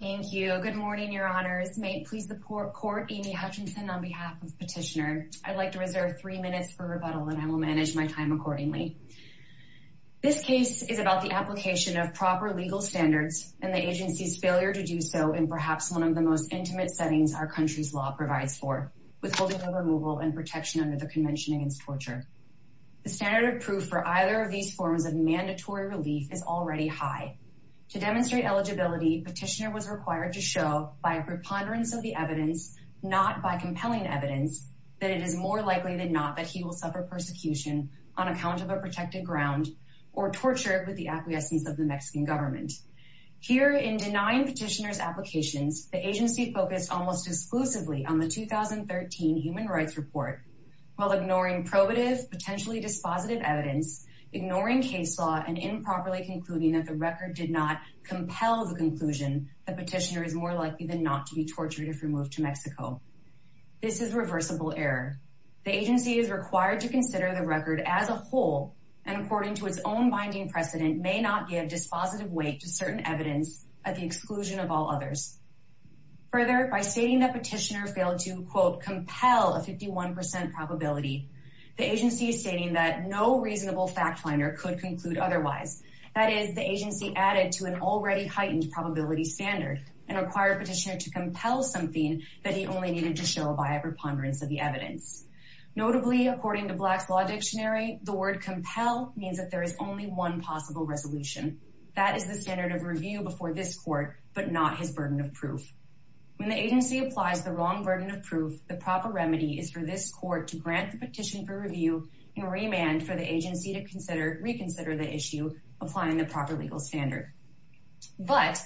Thank you. Good morning, Your Honors. May it please the Court, Amy Hutchinson, on behalf of Petitioner. I'd like to reserve three minutes for rebuttal and I will manage my time accordingly. This case is about the application of proper legal standards and the agency's failure to do so in perhaps one of the most intimate settings our country's law provides for, withholding the removal and protection under the Convention Against Torture. The standard of proof for either of these forms of mandatory relief is already high. To demonstrate eligibility, Petitioner was required to show, by a preponderance of the evidence, not by compelling evidence, that it is more likely than not that he will suffer persecution on account of a protected ground or torture with the acquiescence of the Mexican government. Here, in denying Petitioner's applications, the agency focused almost exclusively on the 2013 Human Rights Report, while ignoring probative, potentially dispositive evidence, ignoring case law, and improperly concluding that the record did not compel the conclusion that Petitioner is more likely than not to be tortured if removed to Mexico. This is reversible error. The agency is required to consider the record as a whole, and according to its own binding precedent, may not give dispositive weight to certain evidence at the exclusion of all others. Further, by stating that Petitioner failed to, quote, agency is stating that no reasonable fact finder could conclude otherwise. That is, the agency added to an already heightened probability standard and required Petitioner to compel something that he only needed to show by a preponderance of the evidence. Notably, according to Black's Law Dictionary, the word compel means that there is only one possible resolution. That is the standard of review before this court, but not his burden of proof. When the agency applies the wrong burden of proof, the proper remedy is for this court to remand for the agency to reconsider the issue, applying the proper legal standard. But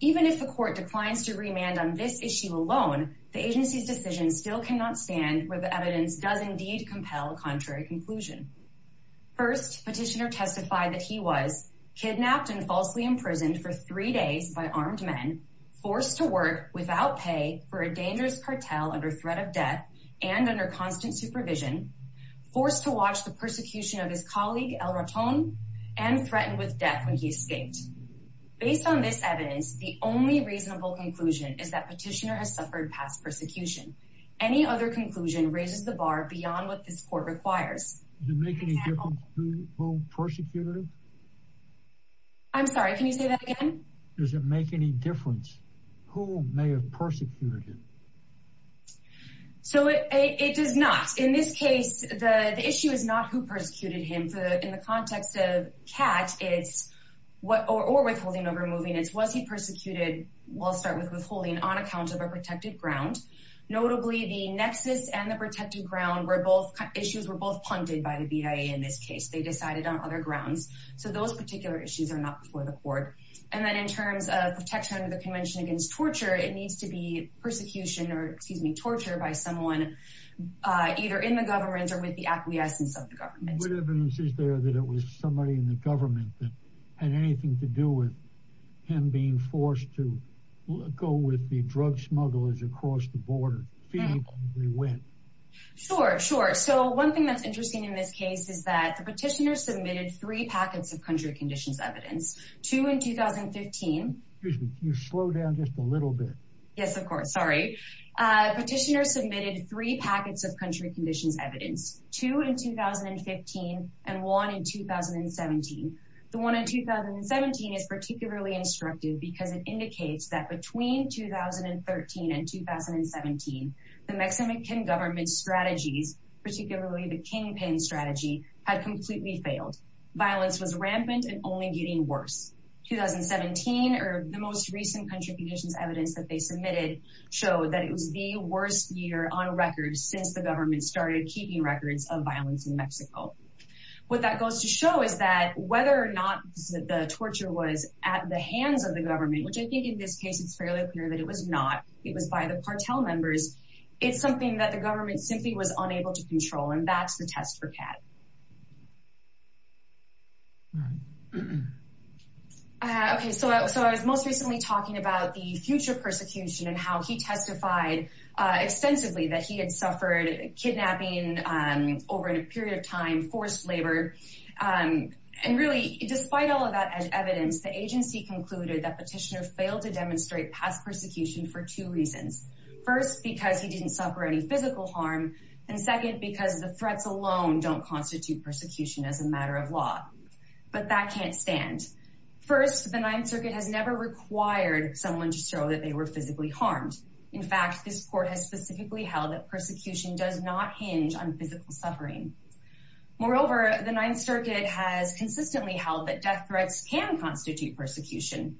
even if the court declines to remand on this issue alone, the agency's decision still cannot stand where the evidence does indeed compel a contrary conclusion. First, Petitioner testified that he was kidnapped and falsely imprisoned for three days by armed men, forced to work without pay for a dangerous cartel under threat of death and under constant supervision, forced to watch the persecution of his colleague, El Raton, and threatened with death when he escaped. Based on this evidence, the only reasonable conclusion is that Petitioner has suffered past persecution. Any other conclusion raises the bar beyond what this court requires. Does it make any difference who persecuted him? I'm sorry, can you say that again? Does it make any difference who may have persecuted him? So it does not. In this case, the issue is not who persecuted him. In the context of CAT or withholding over moving, it's was he persecuted, we'll start with withholding, on account of a protected ground. Notably, the nexus and the protected ground were both issues were both punded by the BIA in this case. They decided on other grounds. So those particular issues are not before the court. And then in terms of protection under the Convention Against Torture, it needs to be persecution or, excuse me, torture by someone either in the government or with the acquiescence of the government. What evidence is there that it was somebody in the government that had anything to do with him being forced to go with the drug smugglers across the border? Sure, sure. So one thing that's interesting in this case is that the Petitioner submitted three packets of country conditions evidence, two in 2015. Excuse me, can you slow down just a little bit? Yes, of course. Sorry. Petitioner submitted three packets of country conditions evidence, two in 2015, and one in 2017. The one in 2017 is particularly instructive because it indicates that between 2013 and 2017, the Mexican government's strategies, particularly the Kingpin strategy, had completely failed. Violence was rampant and only getting worse. 2017, or the most recent country conditions evidence that they submitted, showed that it was the worst year on record since the government started keeping records of violence in Mexico. What that goes to show is that whether or not the torture was at the hands of the government, which I think in this case it's fairly clear that it was not, it was by the cartel members, it's something that the government simply was unable to control, and that's the test for CAT. Okay, so I was most recently talking about the future persecution and how he testified extensively that he had suffered kidnapping over a period of time, forced labor. And really, despite all of that evidence, the agency concluded that Petitioner failed to demonstrate past persecution for two reasons. First, because he didn't suffer any physical harm, and second, because the threats alone don't constitute persecution as a matter of law. But that can't stand. First, the Ninth Circuit has never required someone to show that they were physically harmed. In fact, this court has specifically held that persecution does not hinge on physical suffering. Moreover, the Ninth Circuit has consistently held that death threats can constitute persecution.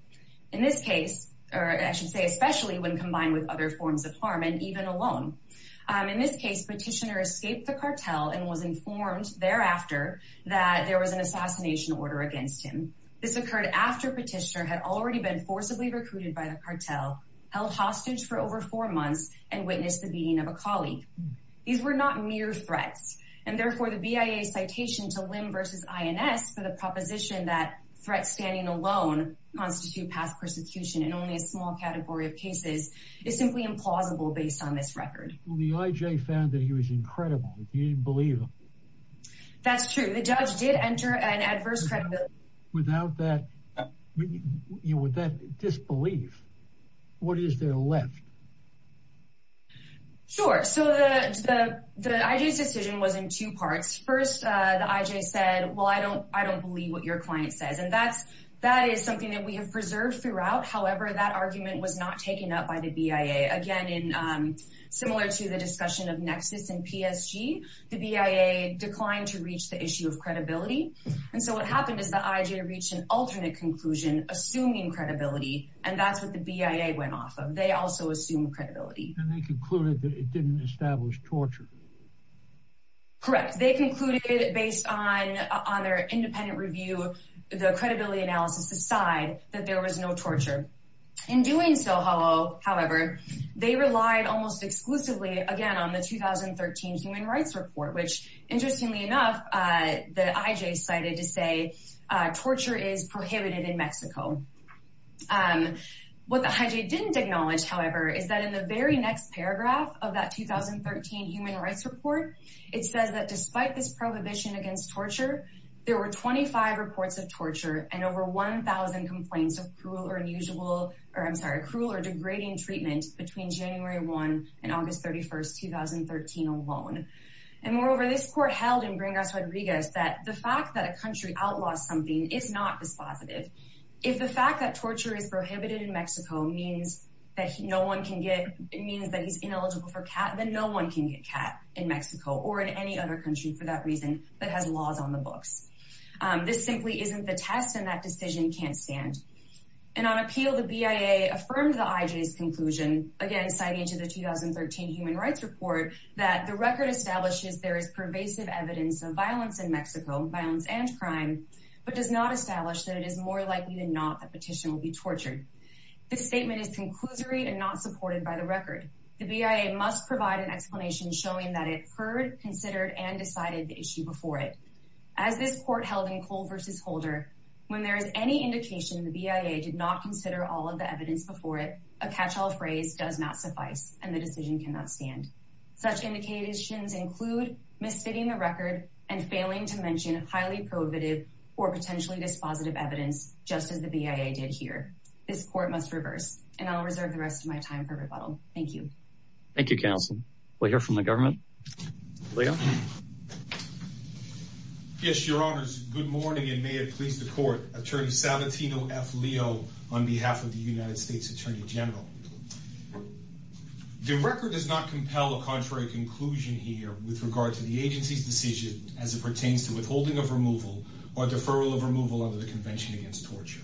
In this case, or I should say especially when combined with other forms of harm, and even alone. In this case, Petitioner escaped the cartel and was informed thereafter that there was an assassination order against him. This occurred after Petitioner had already been forcibly recruited by the cartel, held hostage for over four months, and witnessed the beating of a colleague. These were not mere threats. And therefore, the BIA citation to Lim versus INS for the proposition that threats standing alone constitute past persecution in only a small category of cases is simply implausible based on this record. Well, the IJ found that he was incredible. He didn't believe him. That's true. The judge did enter an adverse credibility. Without that disbelief, what is there left? Sure. So the IJ's decision was in two parts. First, the IJ said, well, I don't believe what your client says. And that is something that we have preserved throughout. However, that argument was not taken up by the BIA. Again, similar to the discussion of Nexus and PSG, the BIA declined to reach the issue of credibility. And so what happened is the IJ reached an alternate conclusion, assuming credibility. And that's what the BIA went off of. They also assumed credibility. And they concluded that it didn't establish torture. Correct. They concluded based on their independent review, the credibility analysis aside, that there was no torture. In doing so, however, they relied almost exclusively, again, on the 2013 Human Rights Report, which, interestingly enough, the IJ cited to say torture is prohibited in Mexico. What the IJ didn't acknowledge, however, is that in the very next paragraph of that 2013 Human Rights Report, it says that despite this prohibition against torture, there were 25 reports of torture and over 1,000 complaints of cruel or unusual, or I'm sorry, cruel or degrading treatment between January 1 and August 31, 2013 alone. And moreover, this If the fact that torture is prohibited in Mexico means that no one can get, it means that he's ineligible for CAT, then no one can get CAT in Mexico or in any other country for that reason that has laws on the books. This simply isn't the test and that decision can't stand. And on appeal, the BIA affirmed the IJ's conclusion, again, citing to the 2013 Human Rights Report, that the record establishes there is pervasive evidence of violence in Mexico, violence and crime, but does not establish that it is more likely than not that petition will be tortured. This statement is conclusory and not supported by the record. The BIA must provide an explanation showing that it heard, considered, and decided the issue before it. As this court held in Cole versus Holder, when there is any indication the BIA did not consider all of the evidence before it, a catch-all phrase does not suffice and the decision cannot stand. Such indications include misfitting the record and failing to mention highly prohibitive or potentially dispositive evidence, just as the BIA did here. This court must reverse and I'll reserve the rest of my time for rebuttal. Thank you. Thank you, counsel. We'll hear from the government. Leo? Yes, your honors. Good morning and may it please the court. Attorney Salvatino F. General. The record does not compel a contrary conclusion here with regard to the agency's decision as it pertains to withholding of removal or deferral of removal under the Convention Against Torture.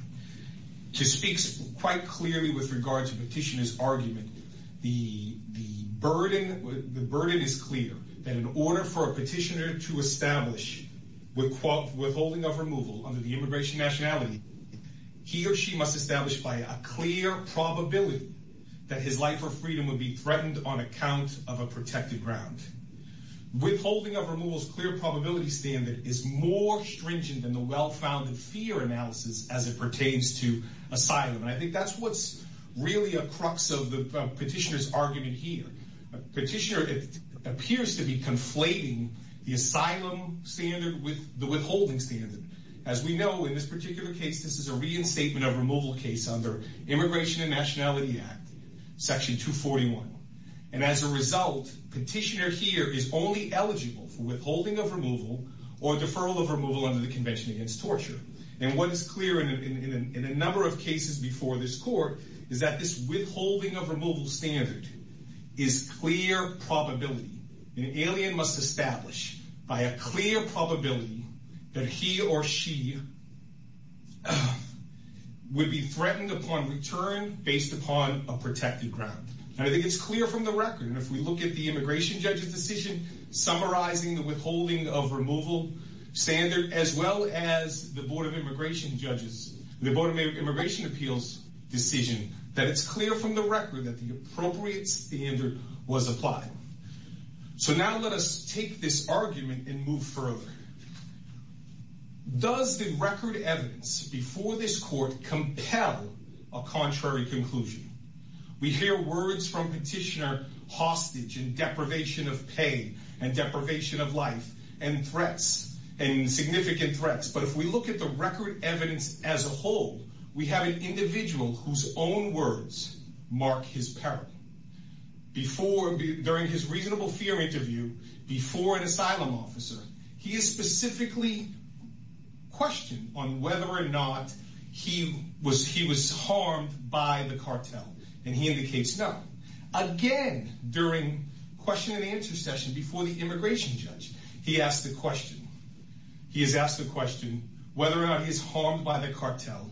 To speak quite clearly with regard to petitioner's argument, the burden is clear that in order for a petitioner to establish withholding of removal under the that his life or freedom would be threatened on account of a protected ground. Withholding of removal's clear probability standard is more stringent than the well-founded fear analysis as it pertains to asylum. And I think that's what's really a crux of the petitioner's argument here. Petitioner appears to be conflating the asylum standard with the withholding standard. As we know, in this particular case, this is a reinstatement of removal case under Immigration and Nationality Act, Section 241. And as a result, petitioner here is only eligible for withholding of removal or deferral of removal under the Convention Against Torture. And what is clear in a number of cases before this court is that this withholding of removal standard is clear probability. An alien must establish by a clear probability that he or she would be threatened upon return based upon a protected ground. And I think it's clear from the record, and if we look at the immigration judge's decision summarizing the withholding of removal standard, as well as the Board of Immigration Judges, the Board of Immigration Appeals decision, that it's clear from the record that the appropriate standard was applied. So now let us take this argument and move further. Does the record evidence before this court compel a contrary conclusion? We hear words from petitioner hostage and deprivation of pay and deprivation of life and threats and significant threats. But if we look at the record evidence as a whole, we have an individual whose own words mark his peril. During his reasonable fear interview, before an asylum officer, he is specifically questioned on whether or not he was harmed by the cartel. And he indicates no. Again, during question and answer session before the immigration judge, he has asked the question whether or not he's harmed by the cartel.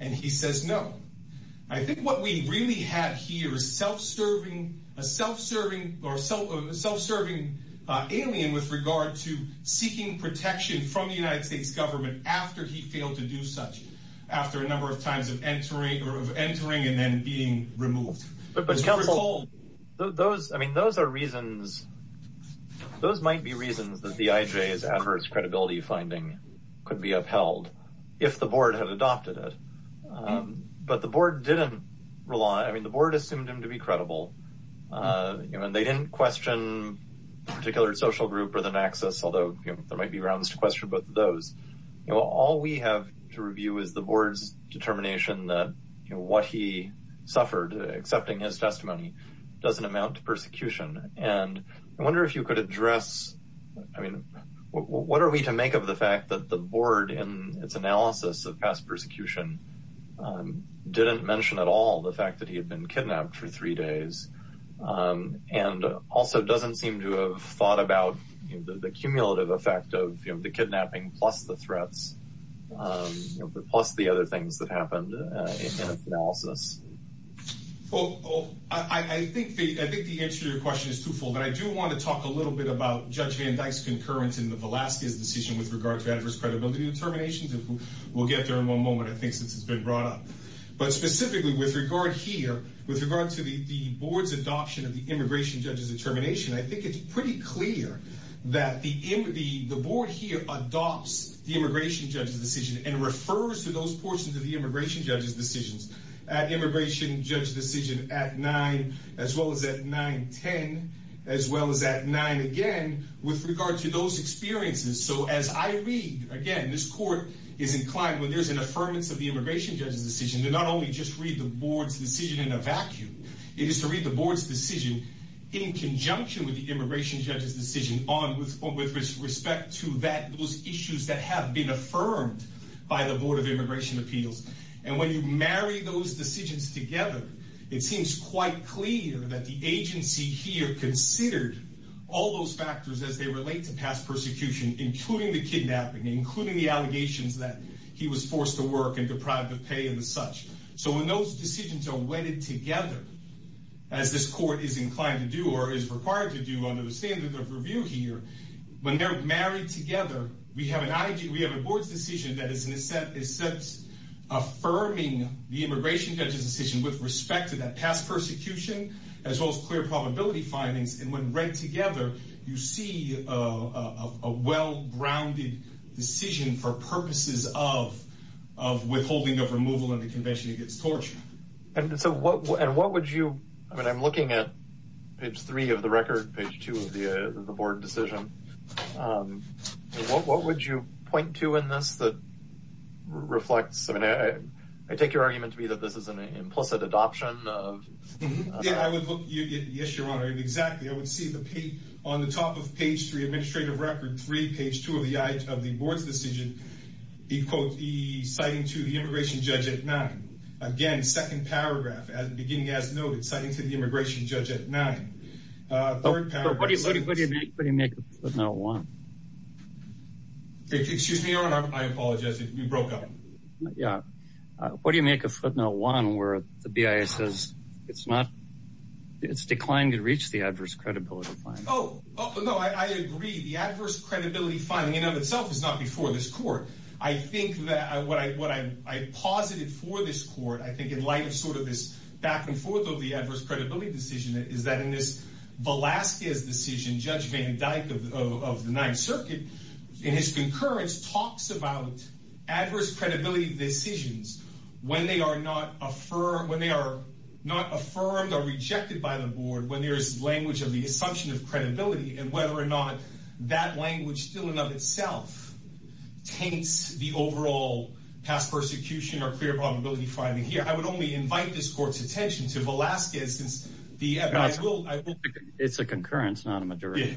And he says no. I think what we really have here is a self-serving alien with regard to seeking protection from the United States government after he failed to do such, after a number of times of entering and then being removed. But counsel, those might be reasons that the IJ's adverse credibility finding could be upheld if the board had adopted it. But the board didn't rely. I mean, the board assumed him to be credible. And they didn't question particular social group or the Naxos, although there might be grounds to question both of those. All we have to review is the board's determination that what he suffered accepting his testimony doesn't amount to persecution. And I wonder if you could address, I mean, what are we to make of the fact that the board, in its analysis of past persecution, didn't mention at all the fact that he had been kidnapped for three days, and also doesn't seem to have thought about the cumulative effect of the kidnapping plus the threats, plus the other things that happened in its analysis. Well, I think the answer to your question is twofold. But I do want to talk a little bit about Judge Van Dyke's concurrence in the Velazquez decision with regard to adverse credibility determinations. And we'll get there in one moment, I think, since it's been brought up. But specifically with regard here, with regard to the board's adoption of the immigration judge's determination, I think it's pretty clear that the board here adopts the immigration judge's immigration judge's decision at 9, as well as at 9-10, as well as at 9 again, with regard to those experiences. So as I read, again, this court is inclined, when there's an affirmance of the immigration judge's decision, to not only just read the board's decision in a vacuum, it is to read the board's decision in conjunction with the immigration judge's decision with respect to those issues that have been affirmed by the Board of Immigration Appeals. And when you marry those decisions together, it seems quite clear that the agency here considered all those factors as they relate to past persecution, including the kidnapping, including the allegations that he was forced to work and deprived of pay and such. So when those decisions are wedded together, as this court is inclined to do, or is required to under the standards of review here, when they're married together, we have an IG, we have a board's decision that is in a sense affirming the immigration judge's decision with respect to that past persecution, as well as clear probability findings. And when read together, you see a well-grounded decision for purposes of withholding of removal in the Convention against Torture. And so what would you, I mean, I'm looking at page three of the record, page two of the board decision. What would you point to in this that reflects, I mean, I take your argument to be that this is an implicit adoption of... Yes, Your Honor, exactly. I would see on the top of page three, administrative record three, page two of the board's decision, the quote, the citing to the immigration judge at nine. Again, second paragraph, beginning as noted, citing to the immigration judge at nine. What do you make of footnote one? Excuse me, Your Honor, I apologize, we broke up. Yeah. What do you make of footnote one where the BIA says it's declined to reach the adverse credibility finding? Oh, no, I agree. The adverse credibility finding in of itself is not before this court. I think that what I posited for this court, I think in light of sort of this back and forth of the adverse credibility decision, is that in this Velazquez decision, Judge Van Dyke of the Ninth Circuit, in his concurrence, talks about adverse credibility decisions when they are not affirmed or rejected by the board, when there's language of the assumption of credibility and whether or not that language still in and of itself taints the overall past persecution or clear probability finding here. I would only invite this court's attention to Velazquez, since the evidence, I will, It's a concurrence, not a majority.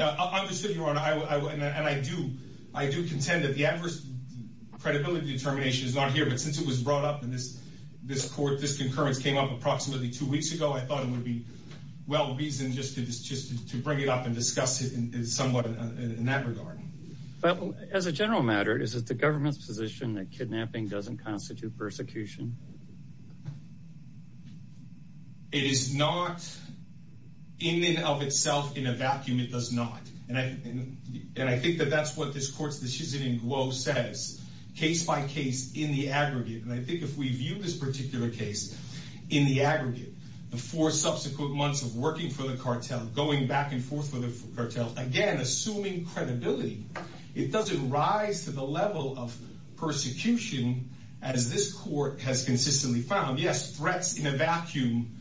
I understand, Your Honor, and I do, I do contend that the adverse credibility determination is not here, but since it was brought up in this court, this concurrence came up approximately two weeks ago, I thought it would be well-reasoned just to bring it up and discuss it somewhat in that regard. But as a general matter, is it the government's position that kidnapping doesn't constitute persecution? It is not in and of itself in a vacuum, it does not. And I think that that's what this court's decision in Glow says, case by case, in the aggregate. And I think if we view this particular case in the aggregate, the four subsequent months of working for the cartel, going back and forth with the cartel, again, assuming credibility, it doesn't rise to the level of persecution as this court has consistently found. Yes, threats in a vacuum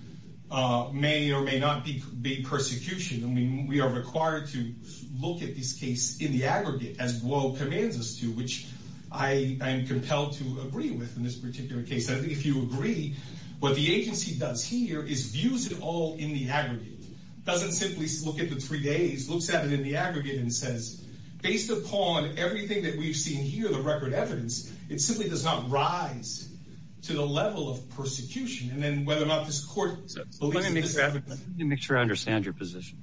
may or may not be persecution. I mean, we are required to look at this case in the aggregate as Glow commands us to, which I am compelled to agree with in this particular case. I think if you agree, what the agency does here is views it all in the aggregate. Doesn't simply look at the three days, looks at it in the aggregate and says, based upon everything that we've seen here, the record evidence, it simply does not rise to the level of persecution. And then whether or not this court believes in this. Let me make sure I understand your position.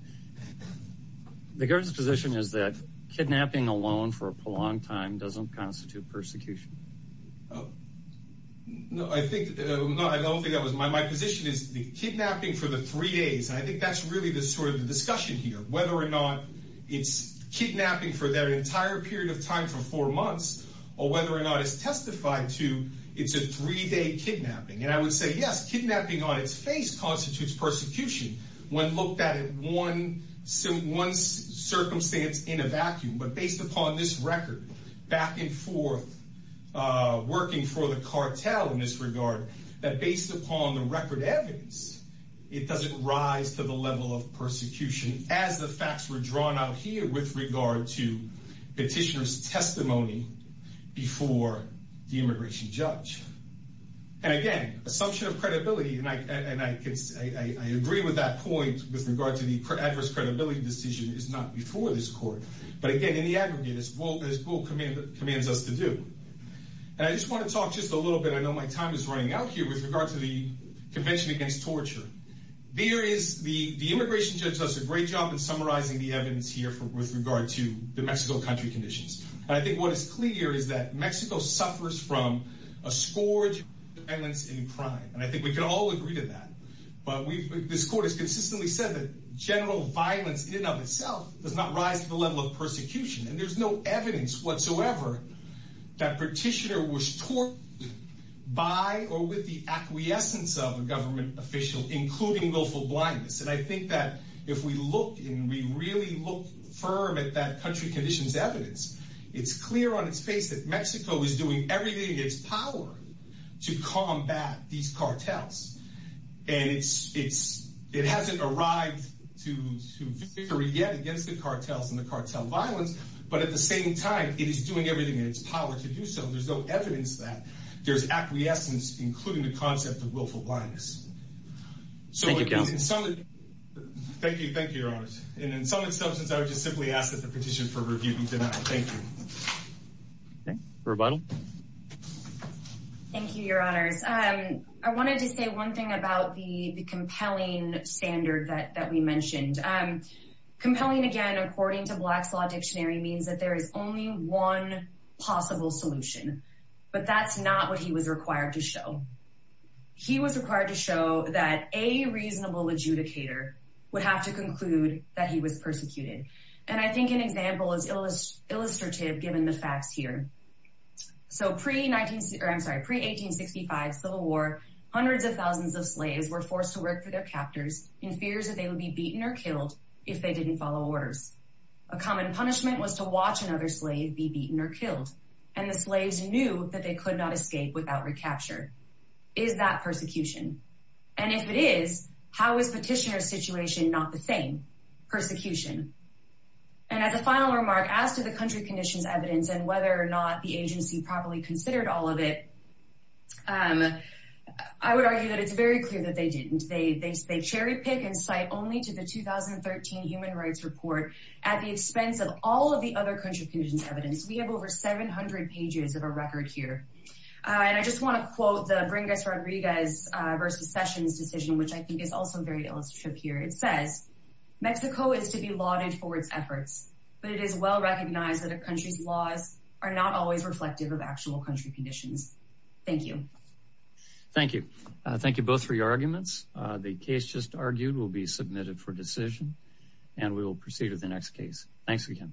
The court's position is that kidnapping alone for a prolonged time doesn't constitute persecution. No, I don't think that was my position, is the kidnapping for the three days. I think that's really the sort of discussion here, whether or not it's kidnapping for that entire period of time for four months, or whether or not it's testified to, it's a three-day kidnapping. And I think the fact that it's happening on its face constitutes persecution. When looked at it, one circumstance in a vacuum, but based upon this record, back and forth, working for the cartel in this regard, that based upon the record evidence, it doesn't rise to the level of persecution as the facts were drawn out here with regard to petitioner's testimony before the immigration judge. And again, assumption of credibility, and I agree with that point with regard to the adverse credibility decision, is not before this court. But again, in the aggregate, it's what this rule commands us to do. And I just want to talk just a little bit, I know my time is running out here, with regard to the Convention Against Torture. The immigration judge does a great job in summarizing the evidence here with regard to the Mexico country conditions. And I think this court has consistently said that general violence in and of itself does not rise to the level of persecution. And there's no evidence whatsoever that petitioner was tortured by or with the acquiescence of a government official, including willful blindness. And I think that if we look and we really look firm at that country conditions evidence, it's clear on its face that everything gets power to combat these cartels. And it hasn't arrived to victory yet against the cartels and the cartel violence. But at the same time, it is doing everything in its power to do so. There's no evidence that there's acquiescence, including the concept of willful blindness. Thank you, thank you, your honor. And in some instances, I would just simply ask that the Thank you, your honors. I wanted to say one thing about the compelling standard that we mentioned. Compelling, again, according to Black's Law Dictionary means that there is only one possible solution. But that's not what he was required to show. He was required to show that a reasonable adjudicator would have to conclude that he was persecuted. And I think an example is illustrative given the facts here. So pre-1865 civil war, hundreds of thousands of slaves were forced to work for their captors in fears that they would be beaten or killed if they didn't follow orders. A common punishment was to watch another slave be beaten or killed. And the slaves knew that they could not escape without recapture. Is that persecution? And if it is, how is petitioner situation not the thing? Persecution. And as a final remark, as to the country conditions evidence and whether or not the agency properly considered all of it, I would argue that it's very clear that they didn't. They cherry pick and cite only to the 2013 Human Rights Report at the expense of all of the other contributions evidence. We have over 700 pages of a record here. And I just want to quote the Bringus Rodriguez versus Sessions decision, which I think is also very illustrative here. It says, Mexico is to be lauded for its efforts, but it is well recognized that a country's laws are not always reflective of actual country conditions. Thank you. Thank you. Thank you both for your arguments. The case just argued will be submitted for decision and we will proceed with the next case. Thanks again.